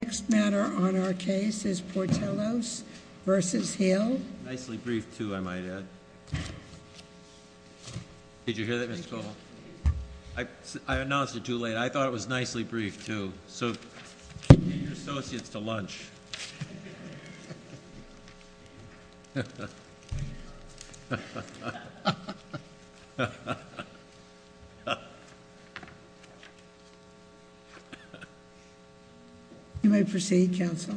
The next matter on our case is Portelos v. Hill. Nicely briefed, too, I might add. Did you hear that, Mr. Cole? I announced it too late. I thought it was nicely briefed, too. So, get your associates to lunch. You may proceed, Counsel.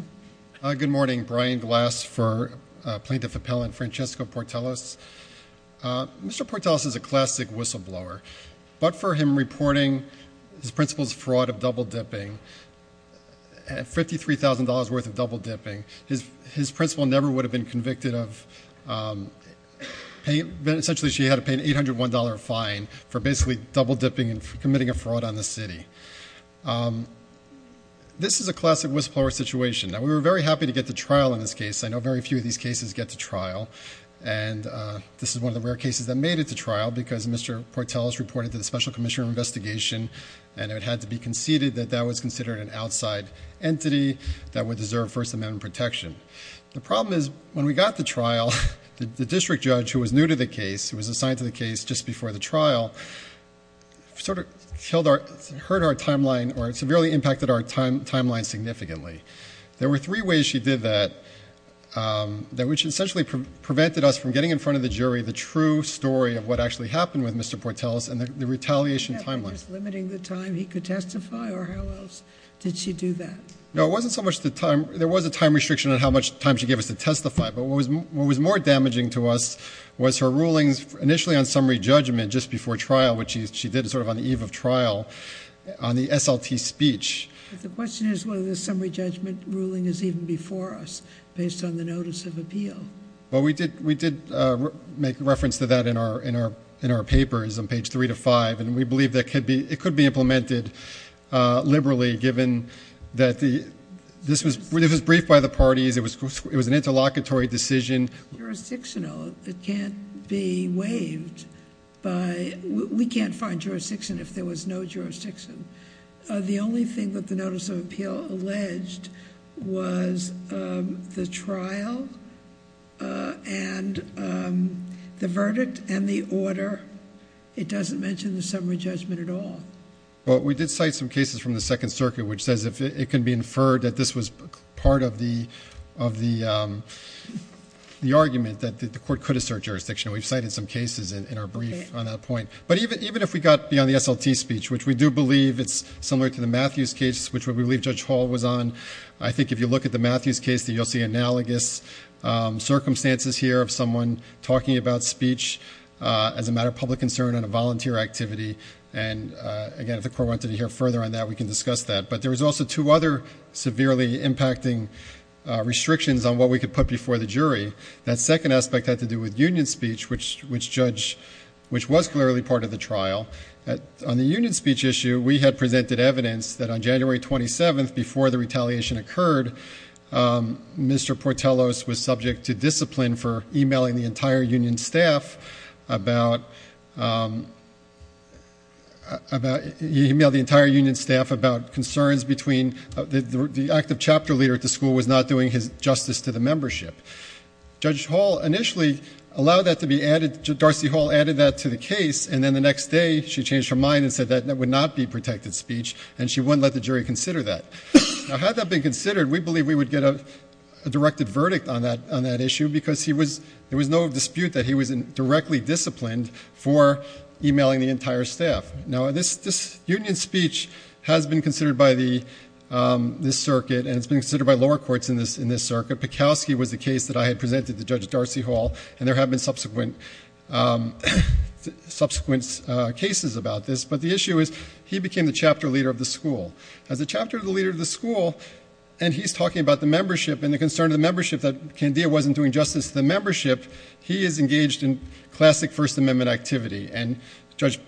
Good morning. Brian Glass for Plaintiff Appellant Francesco Portelos. Mr. Portelos is a classic whistleblower. But for him reporting his principal's fraud of double-dipping, $53,000 worth of double-dipping, his principal never would have been convicted of essentially she had to pay an $801 fine for basically double-dipping and committing a fraud on the city. This is a classic whistleblower situation. Now, we were very happy to get to trial in this case. I know very few of these cases get to trial. And this is one of the rare cases that made it to trial because Mr. Portelos reported to the Special Commissioner of Investigation and it had to be conceded that that was considered an outside entity that would deserve First Amendment protection. The problem is when we got to trial, the district judge who was new to the case, who was assigned to the case just before the trial, sort of hurt our timeline or severely impacted our timeline significantly. There were three ways she did that which essentially prevented us from getting in front of the jury the true story of what actually happened with Mr. Portelos and the retaliation timeline. Just limiting the time he could testify or how else did she do that? No, it wasn't so much the time. There was a time restriction on how much time she gave us to testify. But what was more damaging to us was her rulings initially on summary judgment just before trial, which she did sort of on the eve of trial on the SLT speech. The question is whether the summary judgment ruling is even before us based on the notice of appeal. We did make reference to that in our papers on page 3-5 and we believe it could be implemented liberally given that this was briefed by the parties. It was an interlocutory decision. Jurisdictional, it can't be waived. We can't find jurisdiction if there was no jurisdiction. The only thing that the notice of appeal alleged was the trial and the verdict and the order. It doesn't mention the summary judgment at all. Well, we did cite some cases from the Second Circuit which says it can be inferred that this was part of the argument that the court could assert jurisdiction. We've cited some cases in our brief on that point. But even if we got beyond the SLT speech, which we do believe it's similar to the Matthews case, which we believe Judge Hall was on, I think if you look at the Matthews case, you'll see analogous circumstances here of someone talking about speech as a matter of public concern and a volunteer activity. And again, if the court wanted to hear further on that, we can discuss that. But there was also two other severely impacting restrictions on what we could put before the jury. That second aspect had to do with union speech, which was clearly part of the trial. On the union speech issue, we had presented evidence that on January 27th, before the retaliation occurred, Mr. Portellos was subject to discipline for emailing the entire union staff about concerns between— the active chapter leader at the school was not doing his justice to the membership. Judge Hall initially allowed that to be added— Darcy Hall added that to the case, and then the next day she changed her mind and said that would not be protected speech, and she wouldn't let the jury consider that. Now, had that been considered, we believe we would get a directed verdict on that issue because there was no dispute that he was directly disciplined for emailing the entire staff. Now, this union speech has been considered by this circuit, and it's been considered by lower courts in this circuit. Pekowski was the case that I had presented to Judge Darcy Hall, and there have been subsequent cases about this. But the issue is he became the chapter leader of the school. As the chapter leader of the school, and he's talking about the membership and the concern of the membership that Candia wasn't doing justice to the membership, he is engaged in classic First Amendment activity. And Judge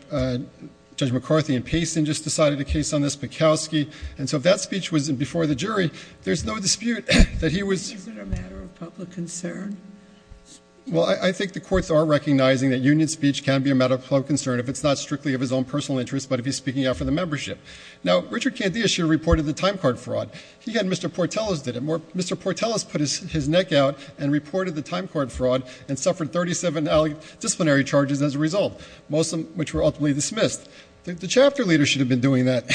McCarthy and Payson just decided a case on this, Pekowski. And so if that speech was before the jury, there's no dispute that he was— Is it a matter of public concern? Well, I think the courts are recognizing that union speech can be a matter of public concern if it's not strictly of his own personal interest, but if he's speaking out for the membership. Now, Richard Candia should have reported the time card fraud. He had Mr. Portellus did it. Mr. Portellus put his neck out and reported the time card fraud and suffered 37 disciplinary charges as a result, most of which were ultimately dismissed. The chapter leader should have been doing that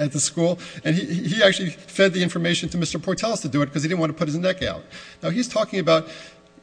at the school, and he actually fed the information to Mr. Portellus to do it because he didn't want to put his neck out. Now, he's talking about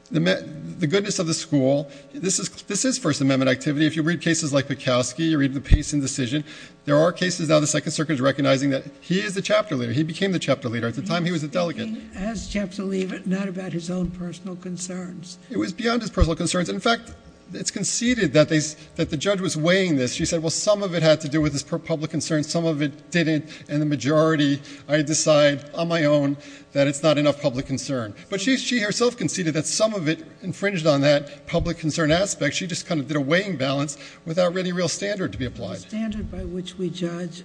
the goodness of the school. This is First Amendment activity. If you read cases like Pekowski, you read the pace and decision. There are cases now the Second Circuit is recognizing that he is the chapter leader. He became the chapter leader. At the time, he was a delegate. He has chapter leader, not about his own personal concerns. It was beyond his personal concerns. In fact, it's conceded that the judge was weighing this. She said, well, some of it had to do with his public concern, some of it didn't, and the majority, I decide on my own, that it's not enough public concern. But she herself conceded that some of it infringed on that public concern aspect. She just kind of did a weighing balance without any real standard to be applied. The standard by which we judge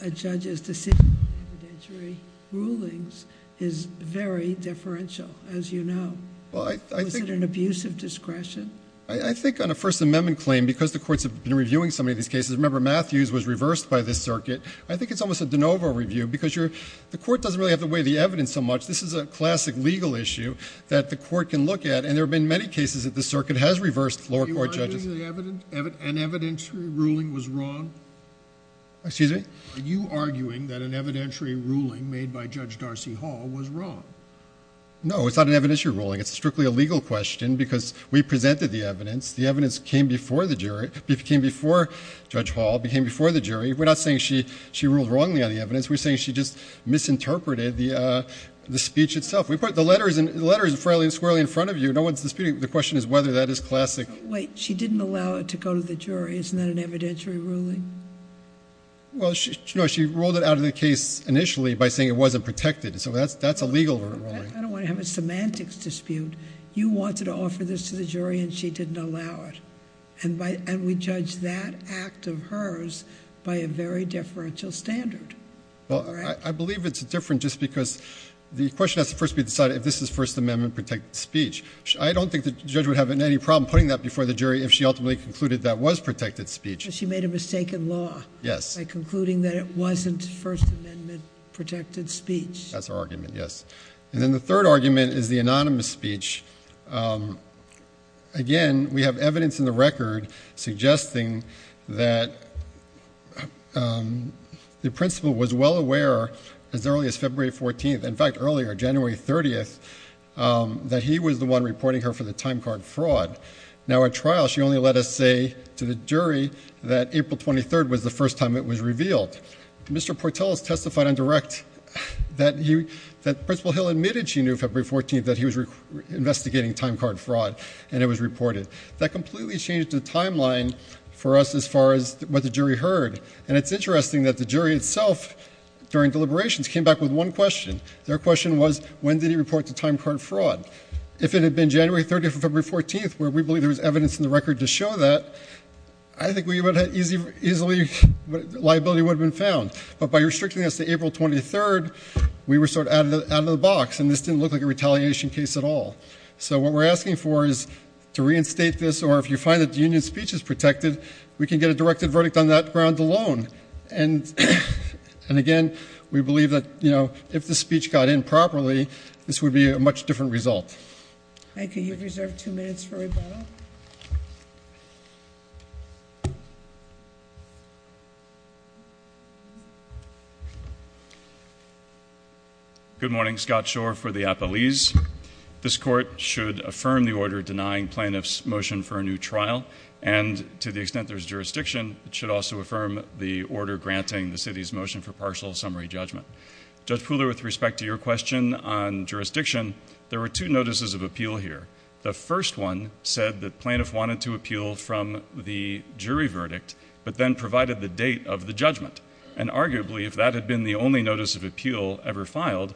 a judge's decision in evidentiary rulings is very differential, as you know. Was it an abuse of discretion? I think on a First Amendment claim, because the courts have been reviewing so many of these cases, remember Matthews was reversed by this circuit, I think it's almost a de novo review because the court doesn't really have to weigh the evidence so much. This is a classic legal issue that the court can look at, and there have been many cases that the circuit has reversed lower court judges. Are you arguing that an evidentiary ruling was wrong? Excuse me? Are you arguing that an evidentiary ruling made by Judge Darcy Hall was wrong? No, it's not an evidentiary ruling. It's strictly a legal question because we presented the evidence. The evidence came before the jury, came before Judge Hall, came before the jury. We're not saying she ruled wrongly on the evidence. We're saying she just misinterpreted the speech itself. The letter is fairly squarely in front of you. No one's disputing it. The question is whether that is classic. Wait, she didn't allow it to go to the jury. Isn't that an evidentiary ruling? Well, she ruled it out of the case initially by saying it wasn't protected. So that's a legal ruling. I don't want to have a semantics dispute. You wanted to offer this to the jury, and she didn't allow it. And we judge that act of hers by a very differential standard. Well, I believe it's different just because the question has to first be decided if this is First Amendment protected speech. I don't think the judge would have any problem putting that before the jury if she ultimately concluded that was protected speech. She made a mistake in law by concluding that it wasn't First Amendment protected speech. That's her argument, yes. And then the third argument is the anonymous speech. Again, we have evidence in the record suggesting that the principal was well aware as early as February 14th, in fact earlier, January 30th, that he was the one reporting her for the time card fraud. Now, at trial, she only let us say to the jury that April 23rd was the first time it was revealed. Mr. Portell has testified on direct that Principal Hill admitted she knew February 14th that he was investigating time card fraud, and it was reported. That completely changed the timeline for us as far as what the jury heard. And it's interesting that the jury itself, during deliberations, came back with one question. Their question was, when did he report the time card fraud? If it had been January 30th or February 14th, where we believe there was evidence in the record to show that, I think we would have easily, liability would have been found. But by restricting us to April 23rd, we were sort of out of the box, and this didn't look like a retaliation case at all. So what we're asking for is to reinstate this, or if you find that the union's speech is protected, we can get a directed verdict on that ground alone. And again, we believe that if the speech got in properly, this would be a much different result. Thank you. You have reserved two minutes for rebuttal. Good morning. Good morning. Scott Shore for the Appellees. This court should affirm the order denying plaintiffs' motion for a new trial, and to the extent there's jurisdiction, it should also affirm the order granting the city's motion for partial summary judgment. Judge Pooler, with respect to your question on jurisdiction, there were two notices of appeal here. The first one said that plaintiffs wanted to appeal from the jury verdict, but then provided the date of the judgment. And arguably, if that had been the only notice of appeal ever filed,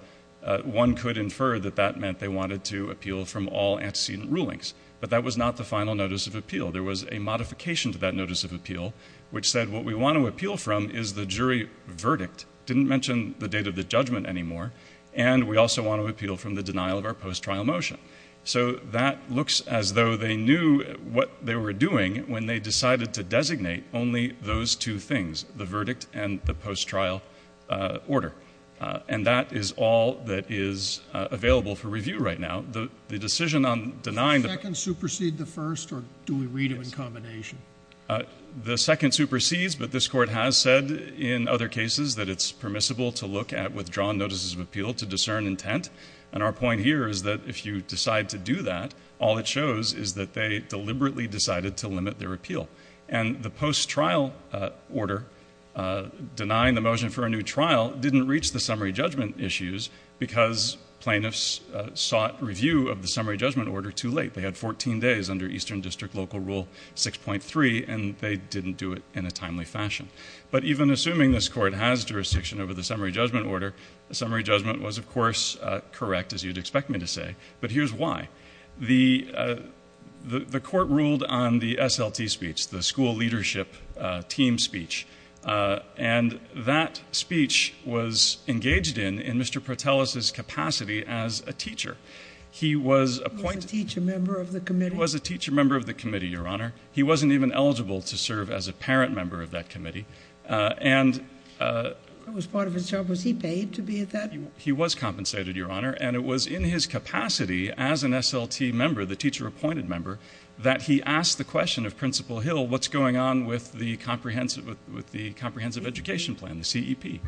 one could infer that that meant they wanted to appeal from all antecedent rulings. But that was not the final notice of appeal. There was a modification to that notice of appeal, which said what we want to appeal from is the jury verdict, didn't mention the date of the judgment anymore, and we also want to appeal from the denial of our post-trial motion. So that looks as though they knew what they were doing when they decided to designate only those two things, the verdict and the post-trial order. And that is all that is available for review right now. The decision on denying the- Does the second supersede the first, or do we read it in combination? The second supersedes, but this court has said in other cases that it's permissible to look at withdrawn notices of appeal to discern intent. And our point here is that if you decide to do that, all it shows is that they deliberately decided to limit their appeal. And the post-trial order denying the motion for a new trial didn't reach the summary judgment issues because plaintiffs sought review of the summary judgment order too late. They had 14 days under Eastern District Local Rule 6.3, and they didn't do it in a timely fashion. But even assuming this court has jurisdiction over the summary judgment order, the summary judgment was, of course, correct, as you'd expect me to say. But here's why. The court ruled on the SLT speech, the school leadership team speech, and that speech was engaged in in Mr. Protelis's capacity as a teacher. He was appointed- He was a teacher member of the committee? He was a teacher member of the committee, Your Honor. He wasn't even eligible to serve as a parent member of that committee. And- That was part of his job. Was he paid to be at that? He was compensated, Your Honor, and it was in his capacity as an SLT member, the teacher-appointed member, that he asked the question of Principal Hill, what's going on with the comprehensive education plan, the CEP?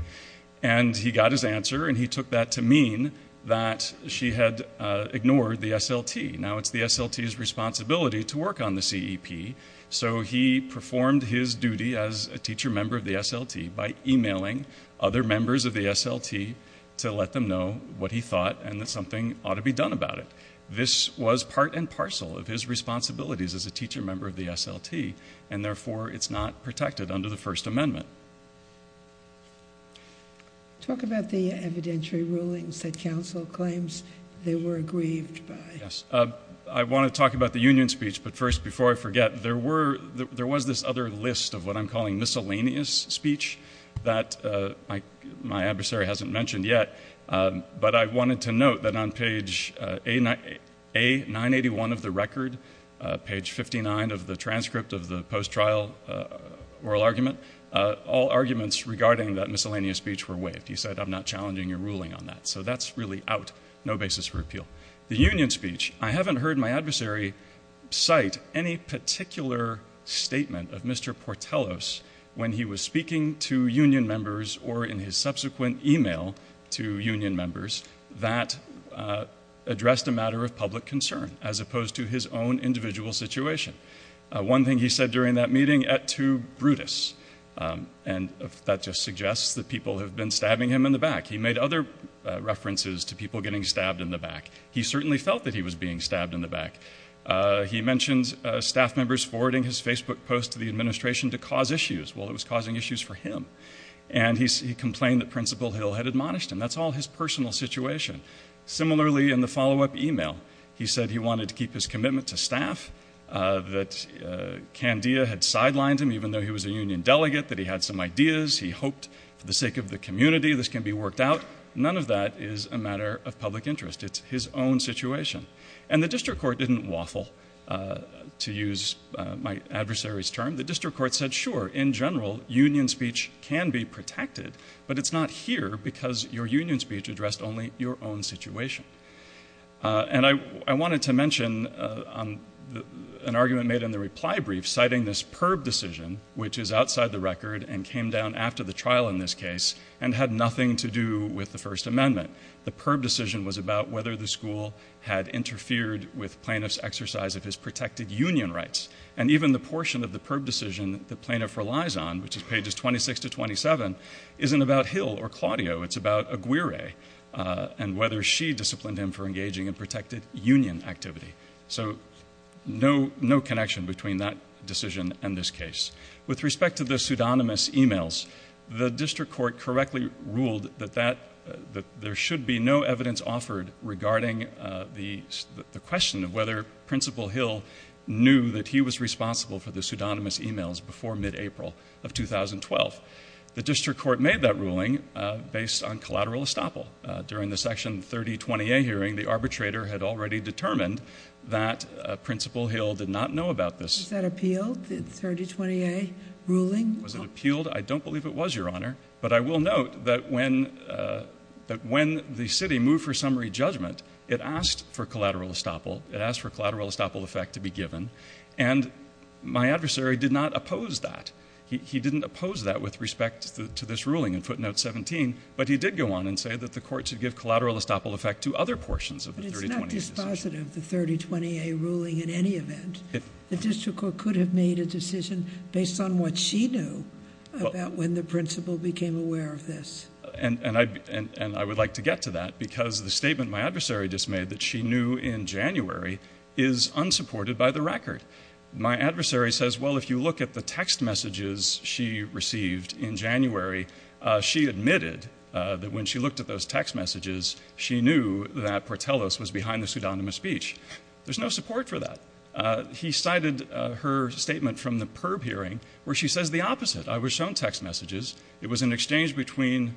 And he got his answer, and he took that to mean that she had ignored the SLT. Now, it's the SLT's responsibility to work on the CEP, so he performed his duty as a teacher member of the SLT by emailing other members of the SLT to let them know what he thought and that something ought to be done about it. This was part and parcel of his responsibilities as a teacher member of the SLT, and therefore it's not protected under the First Amendment. Talk about the evidentiary rulings that counsel claims they were aggrieved by. Yes. I want to talk about the union speech, but first, before I forget, there was this other list of what I'm calling miscellaneous speech that my adversary hasn't mentioned yet, but I wanted to note that on page A981 of the record, page 59 of the transcript of the post-trial oral argument, all arguments regarding that miscellaneous speech were waived. He said, I'm not challenging your ruling on that. So that's really out, no basis for appeal. The union speech, I haven't heard my adversary cite any particular statement of Mr. Portelos when he was speaking to union members or in his subsequent email to union members that addressed a matter of public concern as opposed to his own individual situation. One thing he said during that meeting, et tu, Brutus, and that just suggests that people have been stabbing him in the back. He made other references to people getting stabbed in the back. He certainly felt that he was being stabbed in the back. He mentioned staff members forwarding his Facebook post to the administration to cause issues. Well, it was causing issues for him, and he complained that Principal Hill had admonished him. That's all his personal situation. Similarly, in the follow-up email, he said he wanted to keep his commitment to staff, that Candia had sidelined him even though he was a union delegate, that he had some ideas. He hoped, for the sake of the community, this can be worked out. None of that is a matter of public interest. It's his own situation. And the district court didn't waffle, to use my adversary's term. The district court said, sure, in general, union speech can be protected, but it's not here because your union speech addressed only your own situation. And I wanted to mention an argument made in the reply brief citing this PERB decision, which is outside the record and came down after the trial in this case and had nothing to do with the First Amendment. The PERB decision was about whether the school had interfered with plaintiff's exercise of his protected union rights. And even the portion of the PERB decision the plaintiff relies on, which is pages 26 to 27, isn't about Hill or Claudio. It's about Aguirre and whether she disciplined him for engaging in protected union activity. So no connection between that decision and this case. With respect to the pseudonymous e-mails, the district court correctly ruled that there should be no evidence offered regarding the question of whether Principal Hill knew that he was responsible for the pseudonymous e-mails before mid-April of 2012. The district court made that ruling based on collateral estoppel. During the Section 3020A hearing, the arbitrator had already determined that Principal Hill did not know about this. Was that appealed, the 3020A ruling? Was it appealed? I don't believe it was, Your Honor. But I will note that when the city moved for summary judgment, it asked for collateral estoppel. It asked for collateral estoppel effect to be given. And my adversary did not oppose that. He didn't oppose that with respect to this ruling in footnote 17. But he did go on and say that the court should give collateral estoppel effect to other portions of the 3020A decision. But it's not dispositive, the 3020A ruling, in any event. The district court could have made a decision based on what she knew about when the principal became aware of this. And I would like to get to that because the statement my adversary just made that she knew in January is unsupported by the record. My adversary says, well, if you look at the text messages she received in January, she admitted that when she looked at those text messages, she knew that Portellos was behind the pseudonymous speech. There's no support for that. He cited her statement from the PERB hearing where she says the opposite. I was shown text messages. It was an exchange between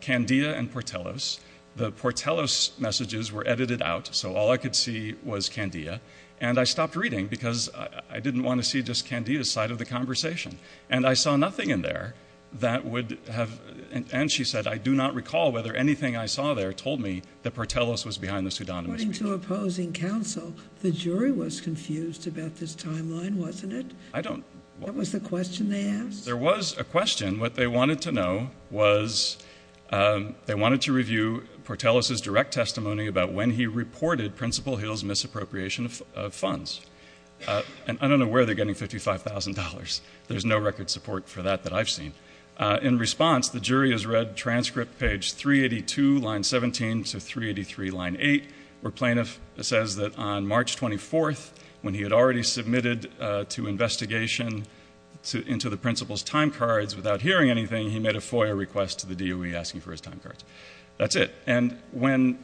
Candia and Portellos. The Portellos messages were edited out, so all I could see was Candia. And I stopped reading because I didn't want to see just Candia's side of the conversation. And I saw nothing in there that would have – and she said, I do not recall whether anything I saw there told me that Portellos was behind the pseudonymous speech. According to opposing counsel, the jury was confused about this timeline, wasn't it? I don't – What was the question they asked? There was a question. What they wanted to know was they wanted to review Portellos' direct testimony about when he reported Principal Hill's misappropriation of funds. And I don't know where they're getting $55,000. There's no record support for that that I've seen. In response, the jury has read transcript page 382, line 17, to 383, line 8, where Plaintiff says that on March 24th, when he had already submitted to investigation into the principal's timecards without hearing anything, he made a FOIA request to the DOE asking for his timecards. That's it. And when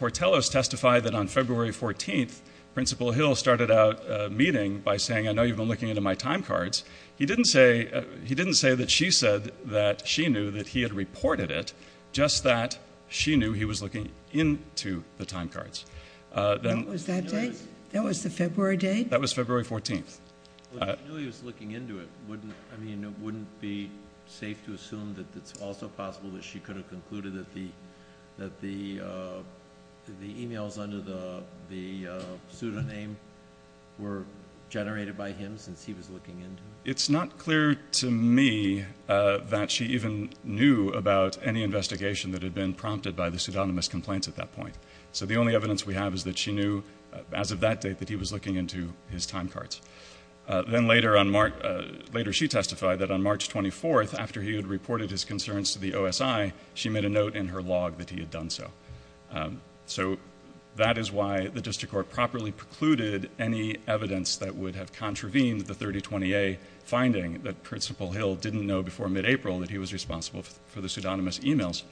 Portellos testified that on February 14th, Principal Hill started out meeting by saying, I know you've been looking into my timecards, he didn't say that she said that she knew that he had reported it, just that she knew he was looking into the timecards. What was that date? That was the February date? That was February 14th. I mean, it wouldn't be safe to assume that it's also possible that she could have concluded that the e-mails under the pseudonym were generated by him since he was looking into it? It's not clear to me that she even knew about any investigation that had been prompted by the pseudonymous complaints at that point. So the only evidence we have is that she knew as of that date that he was looking into his timecards. Then later she testified that on March 24th, after he had reported his concerns to the OSI, she made a note in her log that he had done so. So that is why the district court properly precluded any evidence that would have contravened the 3020A finding that Principal Hill didn't know before mid-April that he was responsible for the pseudonymous e-mails.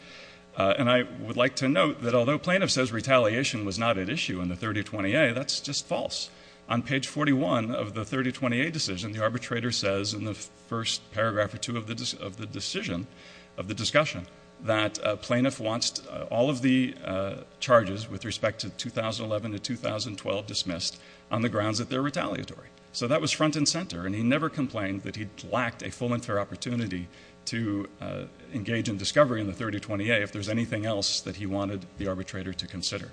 And I would like to note that although plaintiff says retaliation was not at issue in the 3020A, that's just false. On page 41 of the 3020A decision, the arbitrator says in the first paragraph or two of the discussion that plaintiff wants all of the charges with respect to 2011 to 2012 dismissed on the grounds that they're retaliatory. So that was front and center, and he never complained that he lacked a full and fair opportunity to engage in discovery in the 3020A if there's anything else that he wanted the arbitrator to consider.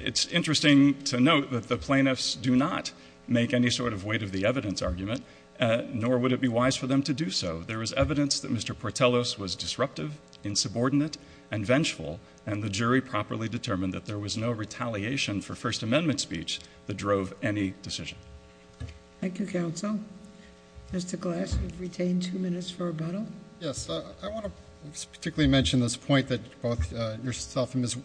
It's interesting to note that the plaintiffs do not make any sort of weight of the evidence argument, nor would it be wise for them to do so. There is evidence that Mr. Portellos was disruptive, insubordinate, and vengeful, and the jury properly determined that there was no retaliation for First Amendment speech that drove any decision. Thank you, counsel. Mr. Glass, you've retained two minutes for rebuttal. Yes. I want to particularly mention this point that both yourself and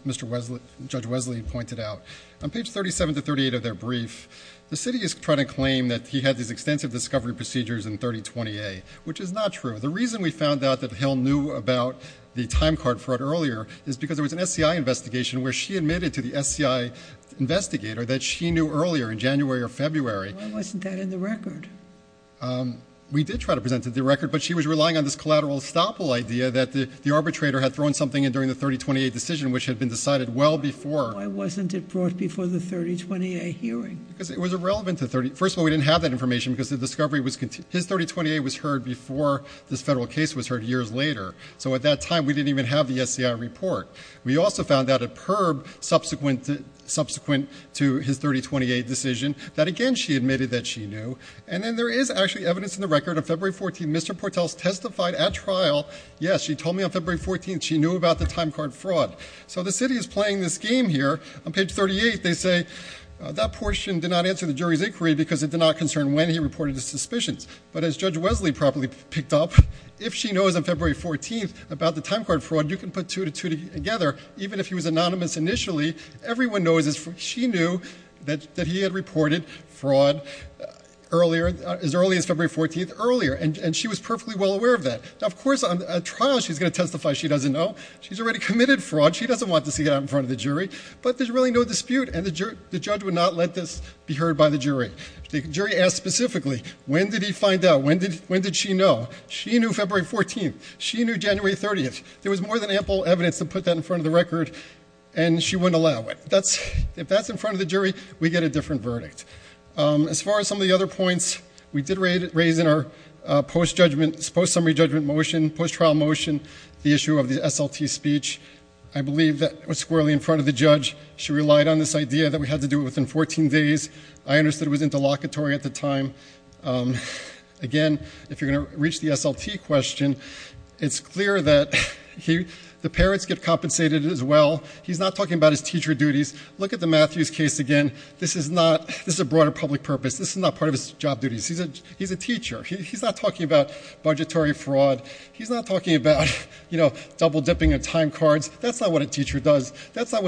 Judge Wesley pointed out. On page 37 to 38 of their brief, the city is trying to claim that he had these extensive discovery procedures in 3020A, which is not true. The reason we found out that Hill knew about the time card fraud earlier is because there was an SCI investigation where she admitted to the SCI investigator that she knew earlier in January or February. Why wasn't that in the record? We did try to present it in the record, but she was relying on this collateral estoppel idea that the arbitrator had thrown something in during the 3020A decision, which had been decided well before. Why wasn't it brought before the 3020A hearing? Because it was irrelevant to 3020A. First of all, we didn't have that information because his 3020A was heard before this federal case was heard years later. So at that time, we didn't even have the SCI report. We also found out at PERB subsequent to his 3020A decision that, again, she admitted that she knew. And then there is actually evidence in the record. On February 14, Mr. Portels testified at trial, yes, she told me on February 14 she knew about the time card fraud. So the city is playing this game here. On page 38, they say that portion did not answer the jury's inquiry because it did not concern when he reported his suspicions. But as Judge Wesley properly picked up, if she knows on February 14 about the time card fraud, you can put two to two together. Even if he was anonymous initially, everyone knows she knew that he had reported fraud earlier, as early as February 14, earlier. And she was perfectly well aware of that. Now, of course, at trial, she's going to testify she doesn't know. She's already committed fraud. She doesn't want to see it out in front of the jury. But there's really no dispute, and the judge would not let this be heard by the jury. The jury asked specifically, when did he find out? When did she know? She knew February 14. She knew January 30. There was more than ample evidence to put that in front of the record, and she wouldn't allow it. If that's in front of the jury, we get a different verdict. As far as some of the other points, we did raise in our post-summary judgment motion, post-trial motion, the issue of the SLT speech. I believe that was squarely in front of the judge. She relied on this idea that we had to do it within 14 days. I understood it was interlocutory at the time. Again, if you're going to reach the SLT question, it's clear that the parents get compensated as well. He's not talking about his teacher duties. Look at the Matthews case again. This is a broader public purpose. This is not part of his job duties. He's a teacher. He's not talking about budgetary fraud. He's not talking about double-dipping and time cards. That's not what a teacher does. That's not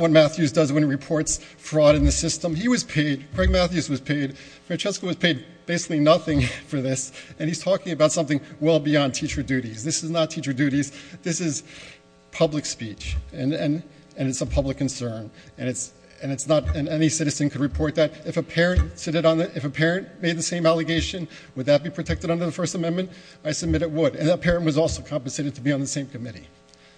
what Matthews does when he reports fraud in the system. He was paid. Craig Matthews was paid. Francesco was paid basically nothing for this, and he's talking about something well beyond teacher duties. This is not teacher duties. This is public speech, and it's a public concern, and any citizen could report that. If a parent made the same allegation, would that be protected under the First Amendment? I submit it would, and that parent was also compensated to be on the same committee.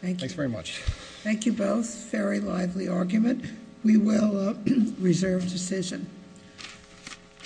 Thank you. Thanks very much. Thank you both. Very lively argument. We will reserve decision.